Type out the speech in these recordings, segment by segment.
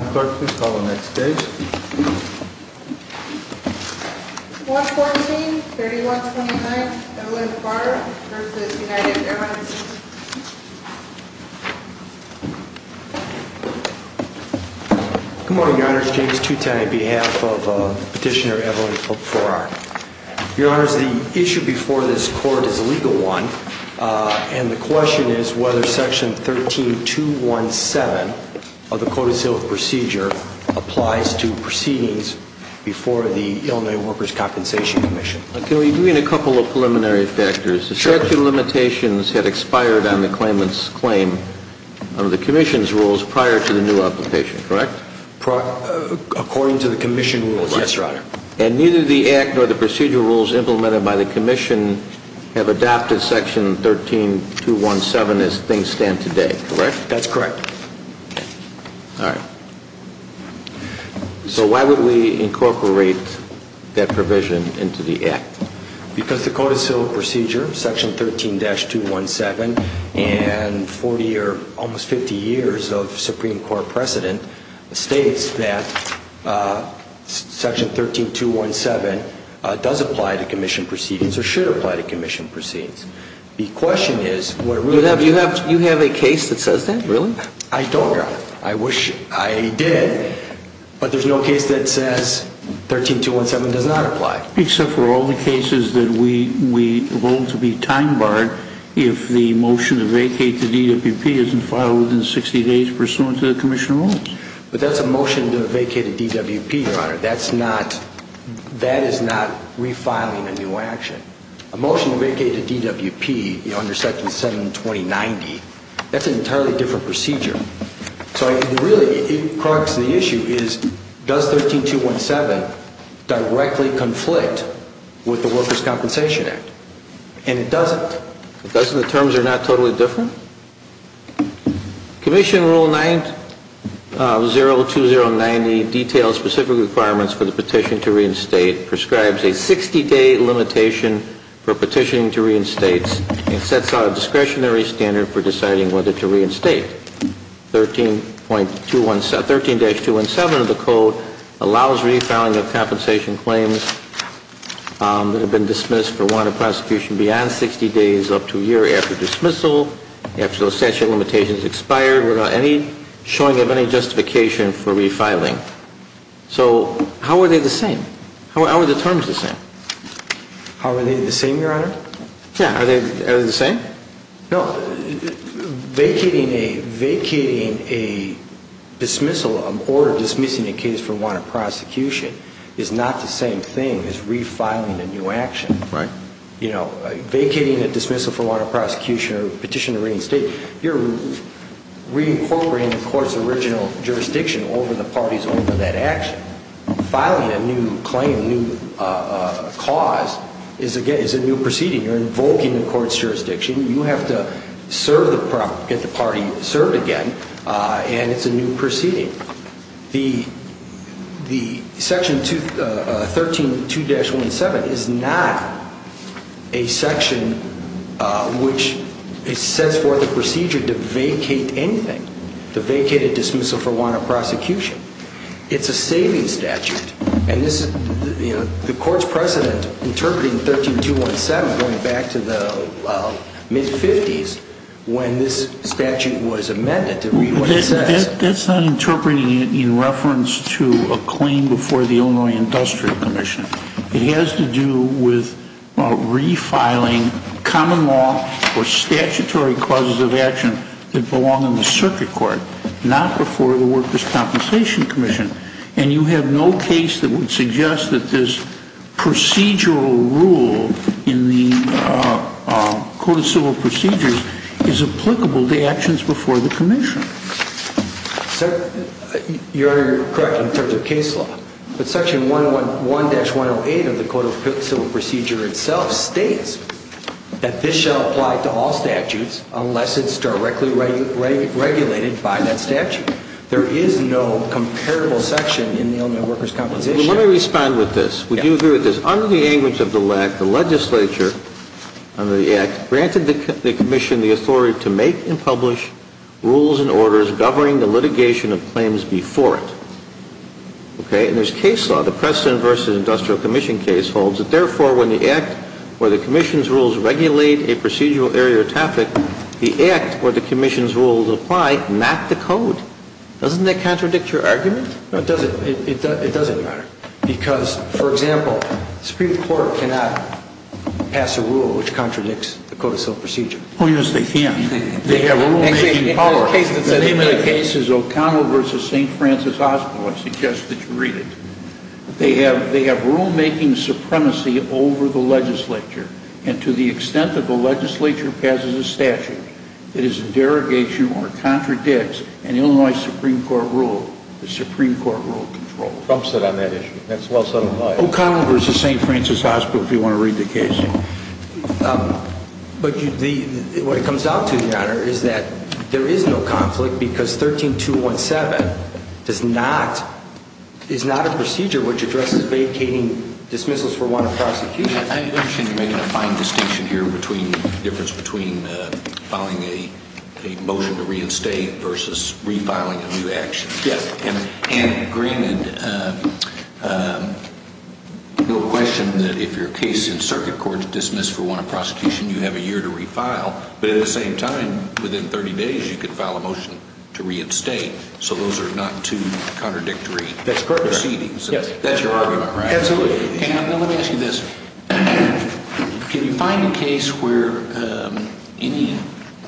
Clerk, please call the next page. 114-3129 Evelyn Farrar v. United Airlines Good morning, Your Honor. It's James Toutain on behalf of Petitioner Evelyn Farrar. Your Honor, the issue before this Court is a legal one. And the question is whether Section 13217 of the Code of Civil Procedure applies to proceedings before the Illinois Workers' Compensation Commission. Can we agree on a couple of preliminary factors? The statute of limitations had expired on the claimant's claim under the Commission's rules prior to the new application, correct? According to the Commission rules, yes, Your Honor. And neither the Act nor the procedural rules implemented by the Commission have adopted Section 13217 as things stand today, correct? That's correct. All right. So why would we incorporate that provision into the Act? Because the Code of Civil Procedure, Section 13-217, and 40 or almost 50 years of Supreme Court precedent states that Section 13217 does apply to Commission proceedings or should apply to Commission proceedings. The question is, what really... You have a case that says that? Really? I don't, Your Honor. I wish I did, but there's no case that says 13217 does not apply. Except for all the cases that we vote to be time-barred if the motion to vacate the DWP isn't filed within 60 days pursuant to the Commission rules. But that's a motion to vacate a DWP, Your Honor. That is not refiling a new action. A motion to vacate a DWP under Section 72090, that's an entirely different procedure. So really, the crux of the issue is, does 13217 directly conflict with the Workers' Compensation Act? And it doesn't. It doesn't? The terms are not totally different? Commission Rule 902090 details specific requirements for the petition to reinstate, prescribes a 60-day limitation for petitioning to reinstate, and sets out a discretionary standard for deciding whether to reinstate. 13-217 of the Code allows refiling of compensation claims that have been dismissed for want of prosecution beyond 60 days up to a year after dismissal, after the statute of limitations has expired without any showing of any justification for refiling. So, how are they the same? How are the terms the same? How are they the same, Your Honor? Yeah, are they the same? No, vacating a dismissal or dismissing a case for want of prosecution is not the same thing as refiling a new action. Right. You know, vacating a dismissal for want of prosecution or petition to reinstate, you're reincorporating the court's original jurisdiction over the party's own to that action. Filing a new claim, a new cause, is a new proceeding. You're invoking the court's jurisdiction. You have to get the party served again, and it's a new proceeding. Section 13-217 is not a section which sets forth a procedure to vacate anything. The vacated dismissal for want of prosecution, it's a saving statute. And this is, you know, the court's precedent interpreting 13-217 going back to the mid-50s when this statute was amended. That's not interpreting it in reference to a claim before the Illinois Industrial Commission. It has to do with refiling common law or statutory causes of action that belong in the circuit court, not before the Workers' Compensation Commission. And you have no case that would suggest that this procedural rule in the Code of Civil Procedures is applicable to actions before the commission. Sir, you're correct in terms of case law. But Section 101-108 of the Code of Civil Procedures itself states that this shall apply to all statutes unless it's directly regulated by that statute. There is no comparable section in the Illinois Workers' Compensation. Well, let me respond with this. Would you agree with this? Under the language of the Act, the legislature under the Act granted the commission the authority to make and publish rules and orders governing the litigation of claims before it. Okay? And there's case law. The Preston v. Industrial Commission case holds that, therefore, when the Act or the commission's rules regulate a procedural area or topic, the Act or the commission's rules apply, not the Code. Doesn't that contradict your argument? No, it doesn't. It doesn't matter. Because, for example, the Supreme Court cannot pass a rule which contradicts the Code of Civil Procedure. Oh, yes, they can. They have rulemaking powers. The name of the case is O'Connell v. St. Francis Hospital. I suggest that you read it. They have rulemaking supremacy over the legislature. And to the extent that the legislature passes a statute that is in derogation or contradicts an Illinois Supreme Court rule, the Supreme Court rule controls. Trump said on that issue. That's well said on mine. O'Connell v. St. Francis Hospital, if you want to read the case. But what it comes out to, Your Honor, is that there is no conflict because 13217 is not a procedure which addresses vacating dismissals for want of prosecution. I imagine you're making a fine distinction here between the difference between filing a motion to reinstate versus refiling a new action. Yes. And granted, no question that if your case in circuit court is dismissed for want of prosecution, you have a year to refile. But at the same time, within 30 days, you could file a motion to reinstate. So those are not two contradictory proceedings. That's correct. That's your argument, right? Absolutely. Now, let me ask you this. Can you find a case where any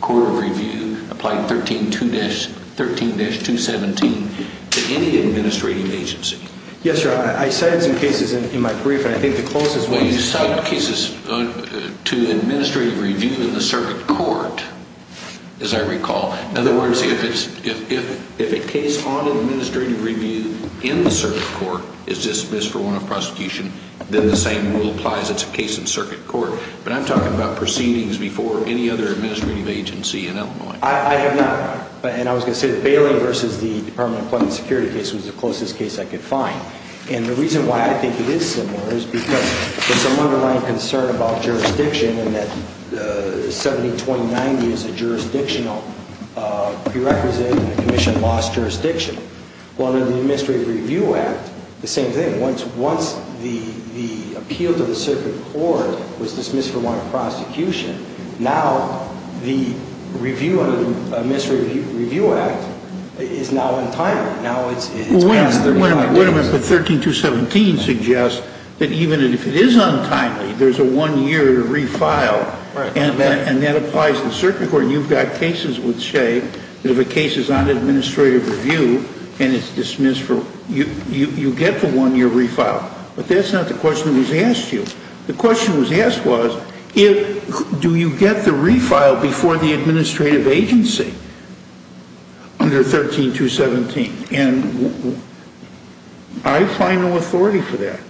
court of review applied 13217 to any administrating agency? Yes, Your Honor. I cited some cases in my brief, and I think the closest one is... Well, you cited cases to administrative review in the circuit court, as I recall. In other words, if a case on administrative review in the circuit court is dismissed for want of prosecution, then the same rule applies. It's a case in circuit court. But I'm talking about proceedings before any other administrative agency in Illinois. I have not. And I was going to say that Bailey v. the Department of Public Security case was the closest case I could find. And the reason why I think it is similar is because there's some underlying concern about jurisdiction and that 1729 is a jurisdictional prerequisite, and the commission lost jurisdiction. Well, under the Administrative Review Act, the same thing. Once the appeal to the circuit court was dismissed for want of prosecution, now the review under the Administrative Review Act is now untimely. Well, wait a minute. But 13217 suggests that even if it is untimely, there's a one-year refile, and that applies to the circuit court. And you've got cases that would say that if a case is on administrative review and it's dismissed, you get the one-year refile. But that's not the question that was asked to you. The question that was asked was, do you get the refile before the administrative agency under 13217? And I find no authority for that.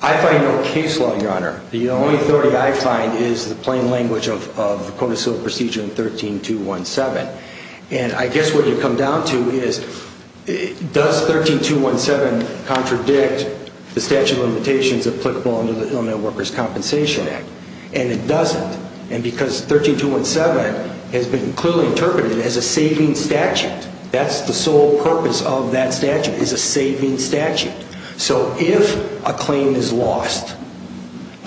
I find no case law, Your Honor. The only authority I find is the plain language of the Code of Civil Procedure in 13217. And I guess what you come down to is, does 13217 contradict the statute of limitations applicable under the Illinois Workers' Compensation Act? And it doesn't. And because 13217 has been clearly interpreted as a saving statute, that's the sole purpose of that statute, is a saving statute. So if a claim is lost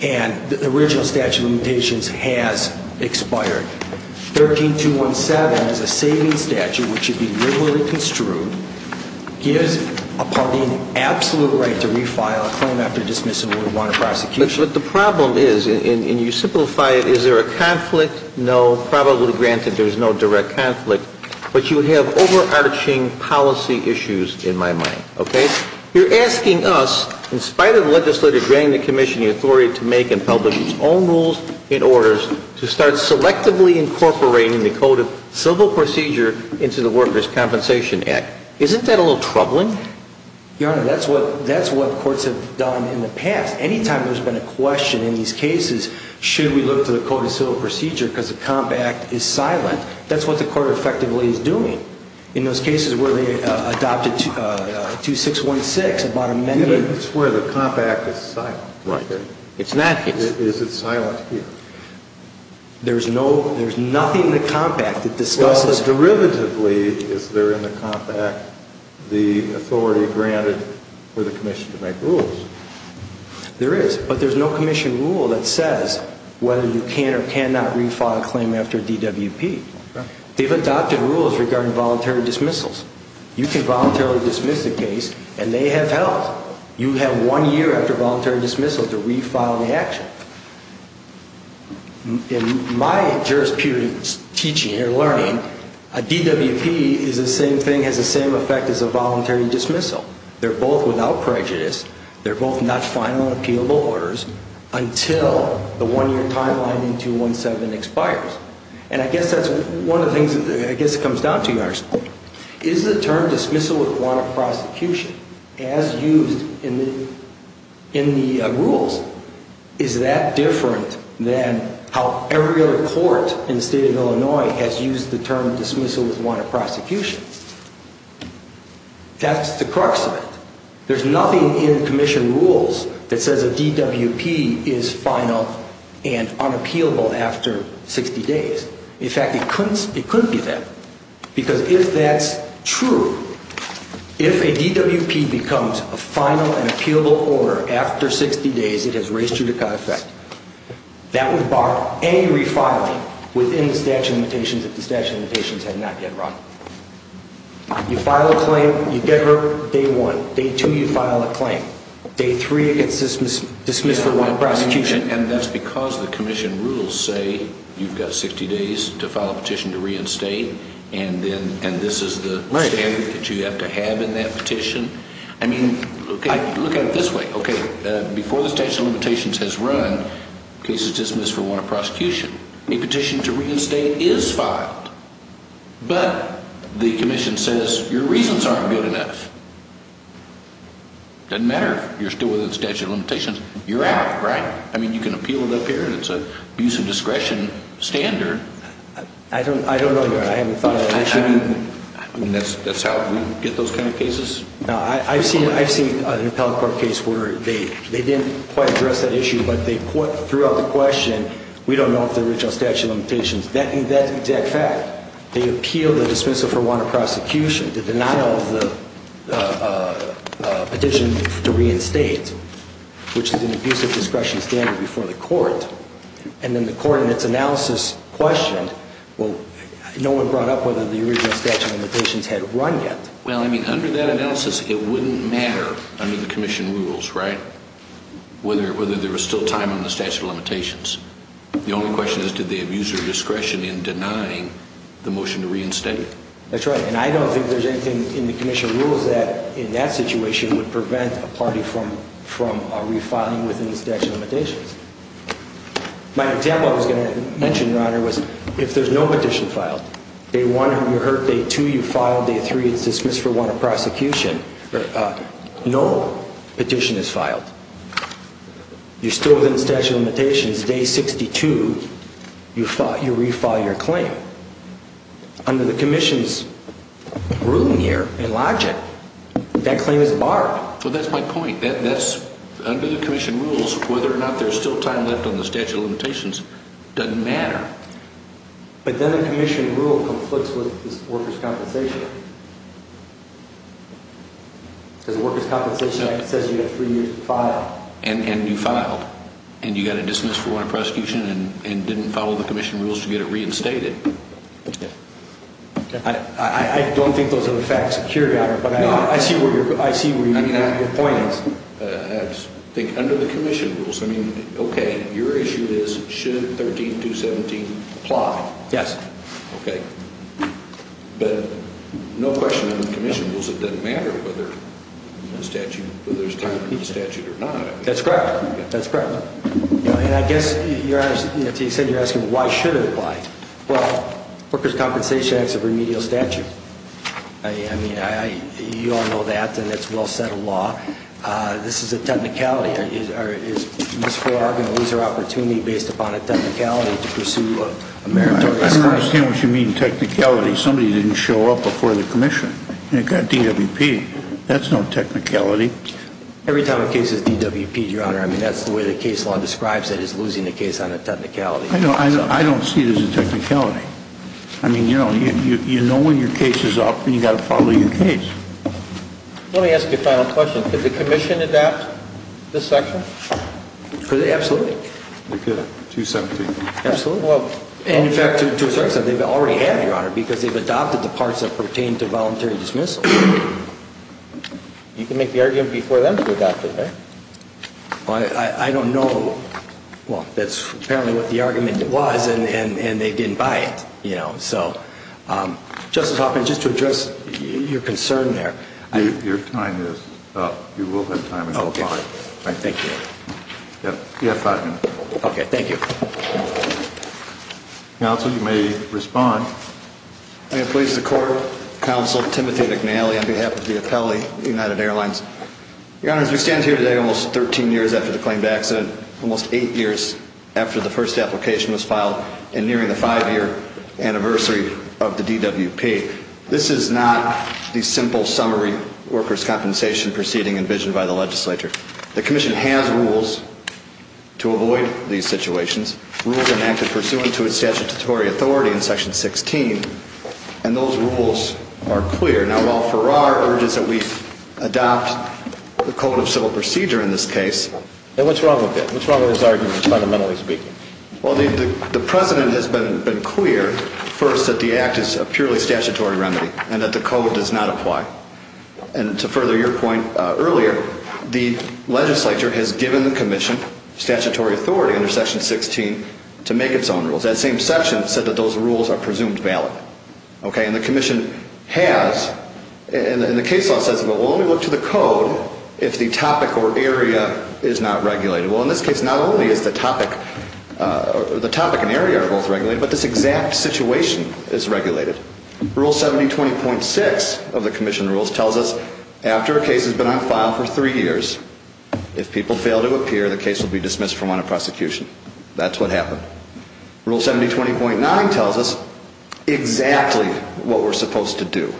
and the original statute of limitations has expired, 13217 is a saving statute which should be literally construed. It gives a party an absolute right to refile a claim after dismissal if we want a prosecution. But the problem is, and you simplify it, is there a conflict? No. Probably granted there's no direct conflict. But you have overarching policy issues in my mind, okay? You're asking us, in spite of the legislature granting the commission the authority to make and publish its own rules and orders, to start selectively incorporating the Code of Civil Procedure into the Workers' Compensation Act. Isn't that a little troubling? Your Honor, that's what courts have done in the past. Anytime there's been a question in these cases, should we look to the Code of Civil Procedure because the Comp Act is silent, that's what the court effectively is doing. In those cases where they adopted 2616, the bottom menu... It's where the Comp Act is silent. Right. It's not here. Is it silent here? There's nothing in the Comp Act that discusses... Well, but derivatively, is there in the Comp Act the authority granted for the commission to make rules? There is. But there's no commission rule that says whether you can or cannot refile a claim after DWP. They've adopted rules regarding voluntary dismissals. You can voluntarily dismiss the case, and they have held. You have one year after voluntary dismissal to refile the action. In my jurisprudence teaching and learning, a DWP is the same thing, has the same effect as a voluntary dismissal. They're both without prejudice. They're both not final and appealable orders until the one-year timeline in 217 expires. And I guess that's one of the things... I guess it comes down to yours. Is the term dismissal with warrant of prosecution, as used in the rules, is that different than how every other court in the state of Illinois has used the term dismissal with warrant of prosecution? That's the crux of it. There's nothing in commission rules that says a DWP is final and unappealable after 60 days. In fact, it couldn't be that. Because if that's true, if a DWP becomes a final and appealable order after 60 days, it has raised judicata effect. That would bar any refiling within the statute of limitations if the statute of limitations had not yet run. You file a claim, you get hurt, day one. Day two, you file a claim. Day three, it gets dismissed for warrant of prosecution. And that's because the commission rules say you've got 60 days to file a petition to reinstate, and this is the standard that you have to have in that petition. I mean, look at it this way. Okay, before the statute of limitations has run, case is dismissed for warrant of prosecution. A petition to reinstate is filed. But the commission says your reasons aren't good enough. It doesn't matter if you're still within the statute of limitations. You're out, right? I mean, you can appeal it up here, and it's an abuse of discretion standard. I don't know, Your Honor. I haven't thought of that issue. I mean, that's how we get those kind of cases? No, I've seen an appellate court case where they didn't quite address that issue, but they threw out the question, we don't know if they're rich on statute of limitations. That's an exact fact. They appeal the dismissal for warrant of prosecution, the denial of the petition to reinstate, which is an abuse of discretion standard before the court, and then the court in its analysis questioned, well, no one brought up whether the original statute of limitations had run yet. Well, I mean, under that analysis, it wouldn't matter under the commission rules, right, whether there was still time on the statute of limitations. The only question is, did they abuse their discretion in denying the motion to reinstate? That's right, and I don't think there's anything in the commission rules that, in that situation, would prevent a party from refiling within the statute of limitations. My example I was going to mention, Your Honor, was if there's no petition filed, day one you're hurt, day two you're filed, day three it's dismissed for warrant of prosecution, no petition is filed. You're still within the statute of limitations. Day 62 you refile your claim. Under the commission's ruling here, in logic, that claim is barred. Well, that's my point. Under the commission rules, whether or not there's still time left on the statute of limitations doesn't matter. But then the commission rule conflicts with this workers' compensation act. Because the workers' compensation act says you have three years to file. And you filed, and you got it dismissed for warrant of prosecution and didn't follow the commission rules to get it reinstated. I don't think those are the facts, Your Honor, but I see where your point is. I think under the commission rules, I mean, okay, your issue is, should 13217 apply? Yes. Okay. But no question under the commission rules it doesn't matter whether there's time for the statute or not. That's correct. That's correct. And I guess, Your Honor, to your extent, you're asking why should it apply. Well, workers' compensation act is a remedial statute. I mean, you all know that, and it's a well-settled law. This is a technicality. I don't understand what you mean technicality. Somebody didn't show up before the commission, and it got DWP. That's no technicality. Every time a case is DWPed, Your Honor, I mean, that's the way the case law describes it, is losing the case on a technicality. I don't see it as a technicality. I mean, you know, you know when your case is up, and you've got to follow your case. Let me ask you a final question. Did the commission adopt this statute? Absolutely. You're kidding. 217? Absolutely. And, in fact, to a certain extent, they've already had it, Your Honor, because they've adopted the parts that pertain to voluntary dismissal. You can make the argument before them to adopt it, right? I don't know. Well, that's apparently what the argument was, and they didn't buy it, you know. So, Justice Hoffman, just to address your concern there. Your time is up. You will have time until 5. All right. Thank you. You have five minutes. Okay. Thank you. Counsel, you may respond. May it please the Court, Counsel Timothy McNally on behalf of the appellee, United Airlines. Your Honor, as we stand here today almost 13 years after the claimed accident, almost eight years after the first application was filed, and nearing the five-year anniversary of the DWP, this is not the simple summary workers' compensation proceeding envisioned by the legislature. The Commission has rules to avoid these situations, rules enacted pursuant to its statutory authority in Section 16, and those rules are clear. Now, while Farrar urges that we adopt the Code of Civil Procedure in this case. And what's wrong with it? What's wrong with his argument, fundamentally speaking? Well, the precedent has been clear, first, that the Act is a purely statutory remedy and that the Code does not apply. And to further your point earlier, the legislature has given the Commission statutory authority under Section 16 to make its own rules. That same section said that those rules are presumed valid. Okay? And the Commission has, and the case law says, but we'll only look to the Code if the topic or area is not regulated. Well, in this case, not only is the topic and area both regulated, but this exact situation is regulated. Rule 7020.6 of the Commission rules tells us, after a case has been on file for three years, if people fail to appear, the case will be dismissed from want of prosecution. That's what happened. Rule 7020.9 tells us exactly what we're supposed to do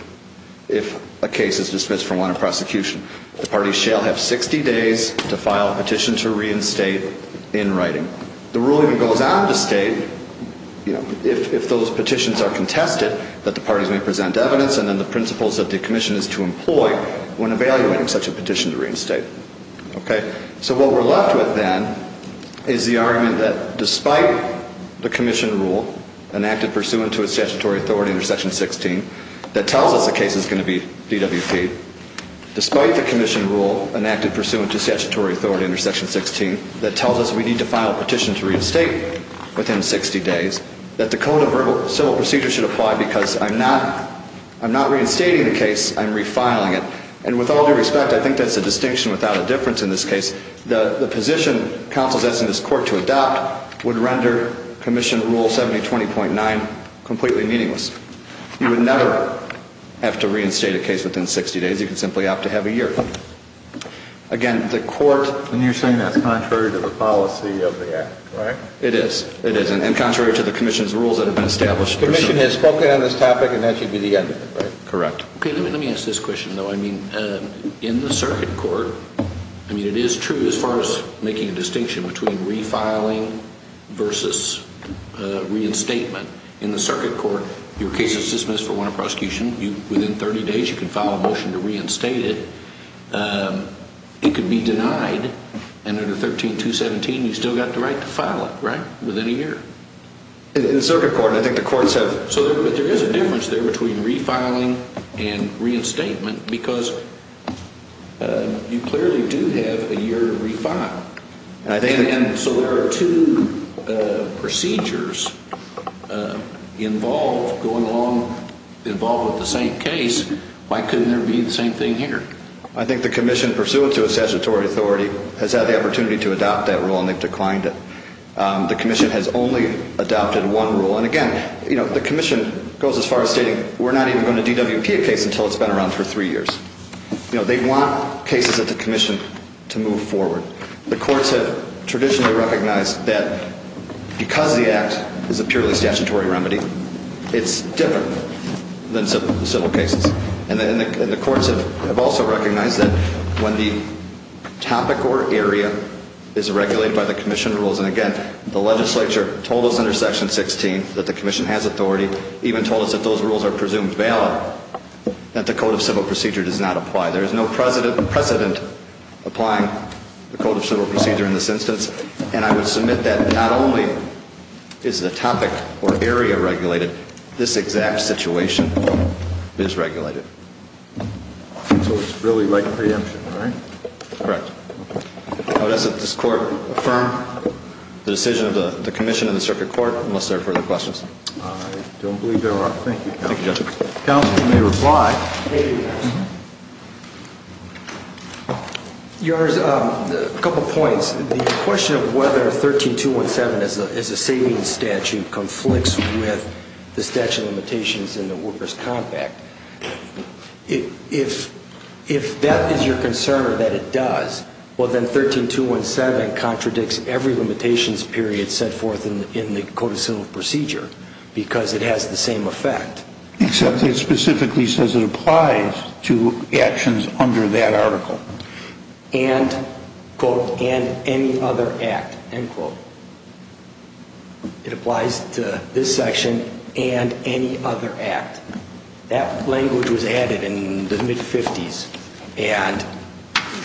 if a case is dismissed from want of prosecution. The parties shall have 60 days to file a petition to reinstate in writing. The rule even goes on to state, you know, if those petitions are contested, that the parties may present evidence and then the principles that the Commission is to employ when evaluating such a petition to reinstate. Okay? So what we're left with then is the argument that, despite the Commission rule, enacted pursuant to its statutory authority under Section 16, that tells us a case is going to be DWP, despite the Commission rule enacted pursuant to statutory authority under Section 16, that tells us we need to file a petition to reinstate within 60 days, that the code of civil procedure should apply because I'm not reinstating the case, I'm refiling it. And with all due respect, I think that's a distinction without a difference in this case. The position counsel sets in this court to adopt would render Commission rule 7020.9 completely meaningless. You would never have to reinstate a case within 60 days. You could simply opt to have a year. Again, the court... And you're saying that's contrary to the policy of the Act, right? It is. It is. And contrary to the Commission's rules that have been established... The Commission has spoken on this topic and that should be the end of it, right? Correct. Okay, let me ask this question, though. I mean, in the circuit court, I mean, it is true as far as making a distinction between refiling versus reinstatement. In the circuit court, your case is dismissed for want of prosecution. Within 30 days, you can file a motion to reinstate it. It could be denied. And under 13217, you've still got the right to file it, right? Within a year. In the circuit court, I think the courts have... But there is a difference there between refiling and reinstatement because you clearly do have a year to refile. And so there are two procedures involved going along, involved with the same case. Why couldn't there be the same thing here? I think the Commission, pursuant to a statutory authority, has had the opportunity to adopt that rule and they've declined it. The Commission has only adopted one rule. And again, the Commission goes as far as stating, we're not even going to DWP a case until it's been around for three years. They want cases at the Commission to move forward. The courts have traditionally recognized that because the Act is a purely statutory remedy, it's different than civil cases. And the courts have also recognized that when the topic or area is regulated by the Commission rules, and again, the legislature told us under Section 16 that the Commission has authority, even told us that those rules are presumed valid, that the Code of Civil Procedure does not apply. There is no precedent applying the Code of Civil Procedure in this instance. And I would submit that not only is the topic or area regulated, this exact situation is regulated. So it's really like preemption, right? Correct. How does this Court affirm the decision of the Commission and the Circuit Court? Unless there are further questions. I don't believe there are. Thank you, Counsel. Counsel, you may reply. Thank you, Your Honor. Your Honor, a couple points. The question of whether 13217 as a savings statute conflicts with the statute of limitations in the workers' compact, if that is your concern that it does, well, then 13217 contradicts every limitations period set forth in the Code of Civil Procedure because it has the same effect. Except it specifically says it applies to actions under that article. And, quote, and any other act, end quote. It applies to this section and any other act. That language was added in the mid-'50s.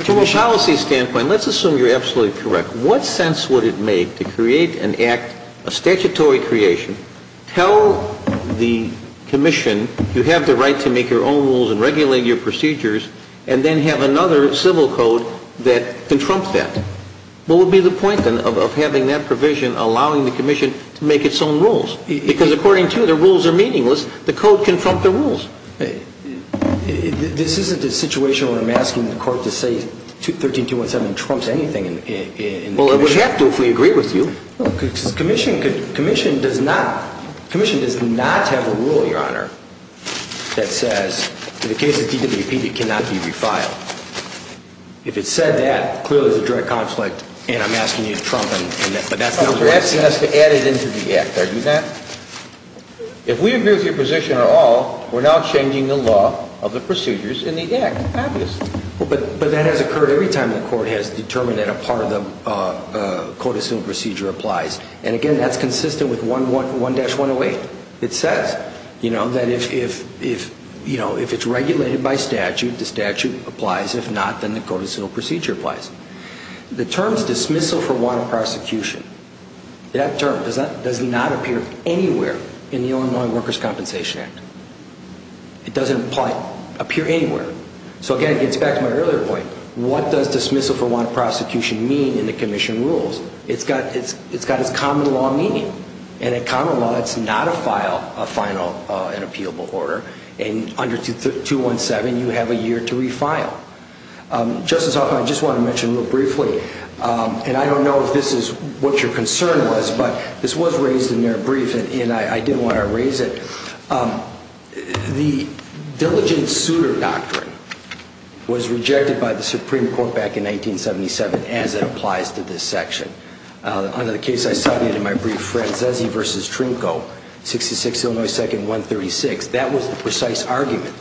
From a policy standpoint, let's assume you're absolutely correct. What sense would it make to create an act, a statutory creation, tell the Commission you have the right to make your own rules and regulate your procedures and then have another civil code that can trump that? What would be the point, then, of having that provision allowing the Commission to make its own rules? Because, according to you, the rules are meaningless. The Code can trump the rules. This isn't a situation where I'm asking the Court to say 13217 trumps anything in the Commission. Well, it would have to if we agree with you. The Commission does not have a rule, Your Honor, that says, in the case of DWP, it cannot be refiled. If it said that, clearly there's a direct conflict, and I'm asking you to trump it. You're asking us to add it into the act, are you not? If we agree with your position at all, we're now changing the law of the procedures in the act, obviously. But that has occurred every time the Court has determined that a part of the codicil procedure applies. And, again, that's consistent with 1-108. It says that if it's regulated by statute, the statute applies. If not, then the codicil procedure applies. The terms dismissal for wanted prosecution, that term does not appear anywhere in the Illinois Workers' Compensation Act. It doesn't appear anywhere. So, again, it gets back to my earlier point. What does dismissal for wanted prosecution mean in the Commission rules? It's got its common law meaning. And in common law, it's not a final and appealable order. And under 217, you have a year to refile. Justice Hoffman, I just want to mention real briefly, and I don't know if this is what your concern was, but this was raised in your brief, and I didn't want to erase it. The diligent suitor doctrine was rejected by the Supreme Court back in 1977 as it applies to this section. Under the case I cited in my brief, Franzese v. Trinco, 66 Illinois 2nd, 136, that was the precise argument.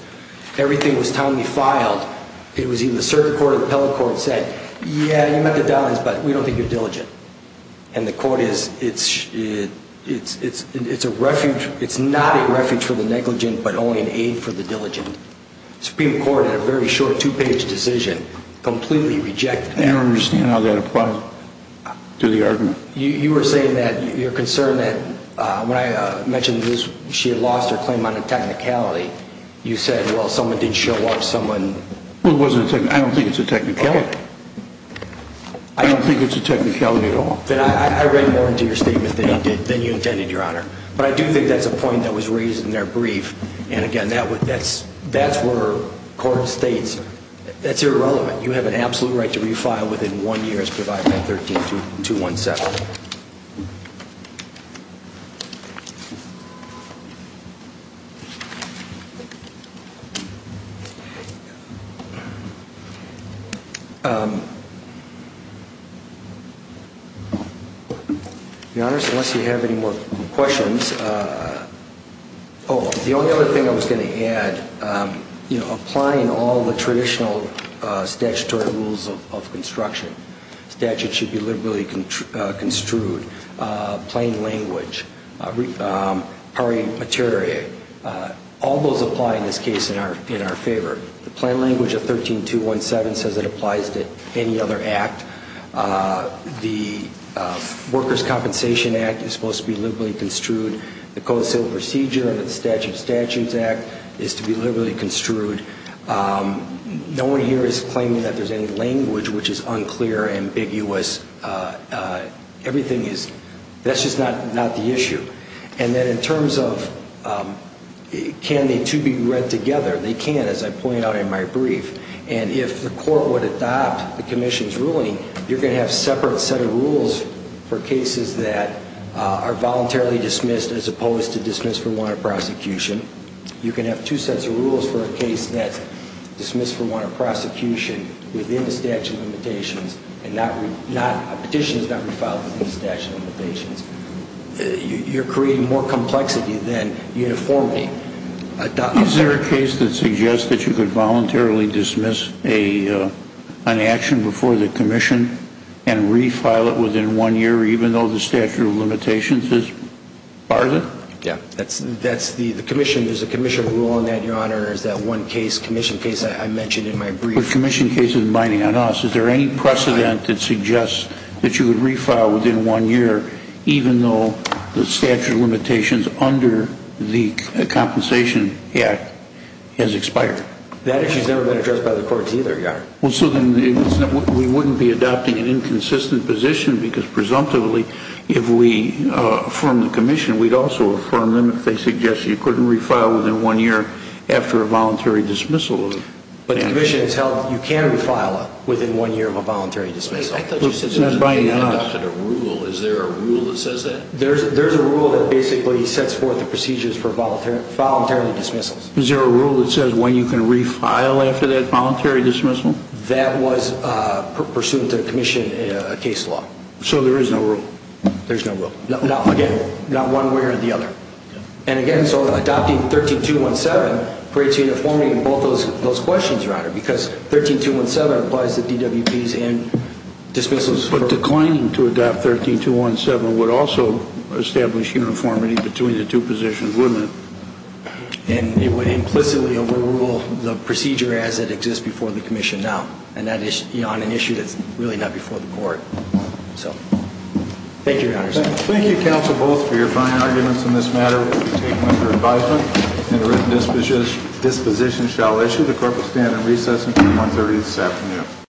Everything was timely filed. It was in the circuit court or the appellate court that said, yeah, you met the dollars, but we don't think you're diligent. And the court is, it's a refuge, it's not a refuge for the negligent, but only an aid for the diligent. Supreme Court, in a very short two-page decision, completely rejected that. I don't understand how that applies to the argument. You were saying that your concern that, when I mentioned she had lost her claim on a technicality, you said, well, someone didn't show up, someone... Well, it wasn't a technicality. I don't think it's a technicality. I don't think it's a technicality at all. I read more into your statement than you intended, Your Honor. But I do think that's a point that was raised in their brief. And again, that's where court states that's irrelevant. You have an absolute right to refile within one year as provided by 13217. Your Honor, unless you have any more questions... Oh, the only other thing I was going to add, applying all the traditional statutory rules of construction, statute should be liberally construed, plain language, pari materia, all those apply in this case in our favor. The workers' compensation act is supposed to be liberally construed. The code of civil procedure under the statute of statutes act is to be liberally construed. No one here is claiming that there's any language which is unclear, ambiguous. Everything is... That's just not the issue. And then in terms of can the two be read together, they can, as I point out in my brief. And if the court would adopt the commission's ruling, you're going to have a separate set of rules for cases that are voluntarily dismissed as opposed to dismissed for warrant of prosecution. You're going to have two sets of rules for a case that's dismissed for warrant of prosecution within the statute of limitations, and a petition is not refiled within the statute of limitations. You're creating more complexity than uniformity. Is there a case that suggests that you could voluntarily dismiss an action before the commission and refile it within one year even though the statute of limitations is part of it? Yeah. That's the commission. There's a commission rule in that, Your Honor, is that one case, commission case I mentioned in my brief. The commission case is binding on us. Is there any precedent that suggests that you would refile within one year even though the statute of limitations under the Compensation Act has expired? That issue's never been addressed by the courts either, Your Honor. Well, so then we wouldn't be adopting an inconsistent position because presumptively if we affirm the commission, we'd also affirm them if they suggest you couldn't refile within one year after a voluntary dismissal of an action. But the commission has held that you can refile within one year of a voluntary dismissal. I thought you said there was a rule. Is there a rule that says that? There's a rule that basically sets forth the procedures for voluntary dismissals. Is there a rule that says when you can refile after that voluntary dismissal? That was pursuant to the commission case law. So there is no rule? There's no rule? Again, not one way or the other. And again, so adopting 13217 creates uniformity in both those questions, Your Honor, because 13217 applies to DWPs and dismissals. But declining to adopt 13217 would also establish uniformity between the two positions, wouldn't it? And it would implicitly overrule the procedure as it exists before the commission now, and that is on an issue that's really not before the court. Thank you, Your Honor. Thank you, counsel, both, for your fine arguments in this matter. I will now take them under advisement. Interim disposition shall issue. The court will stand in recess until 1.30 this afternoon.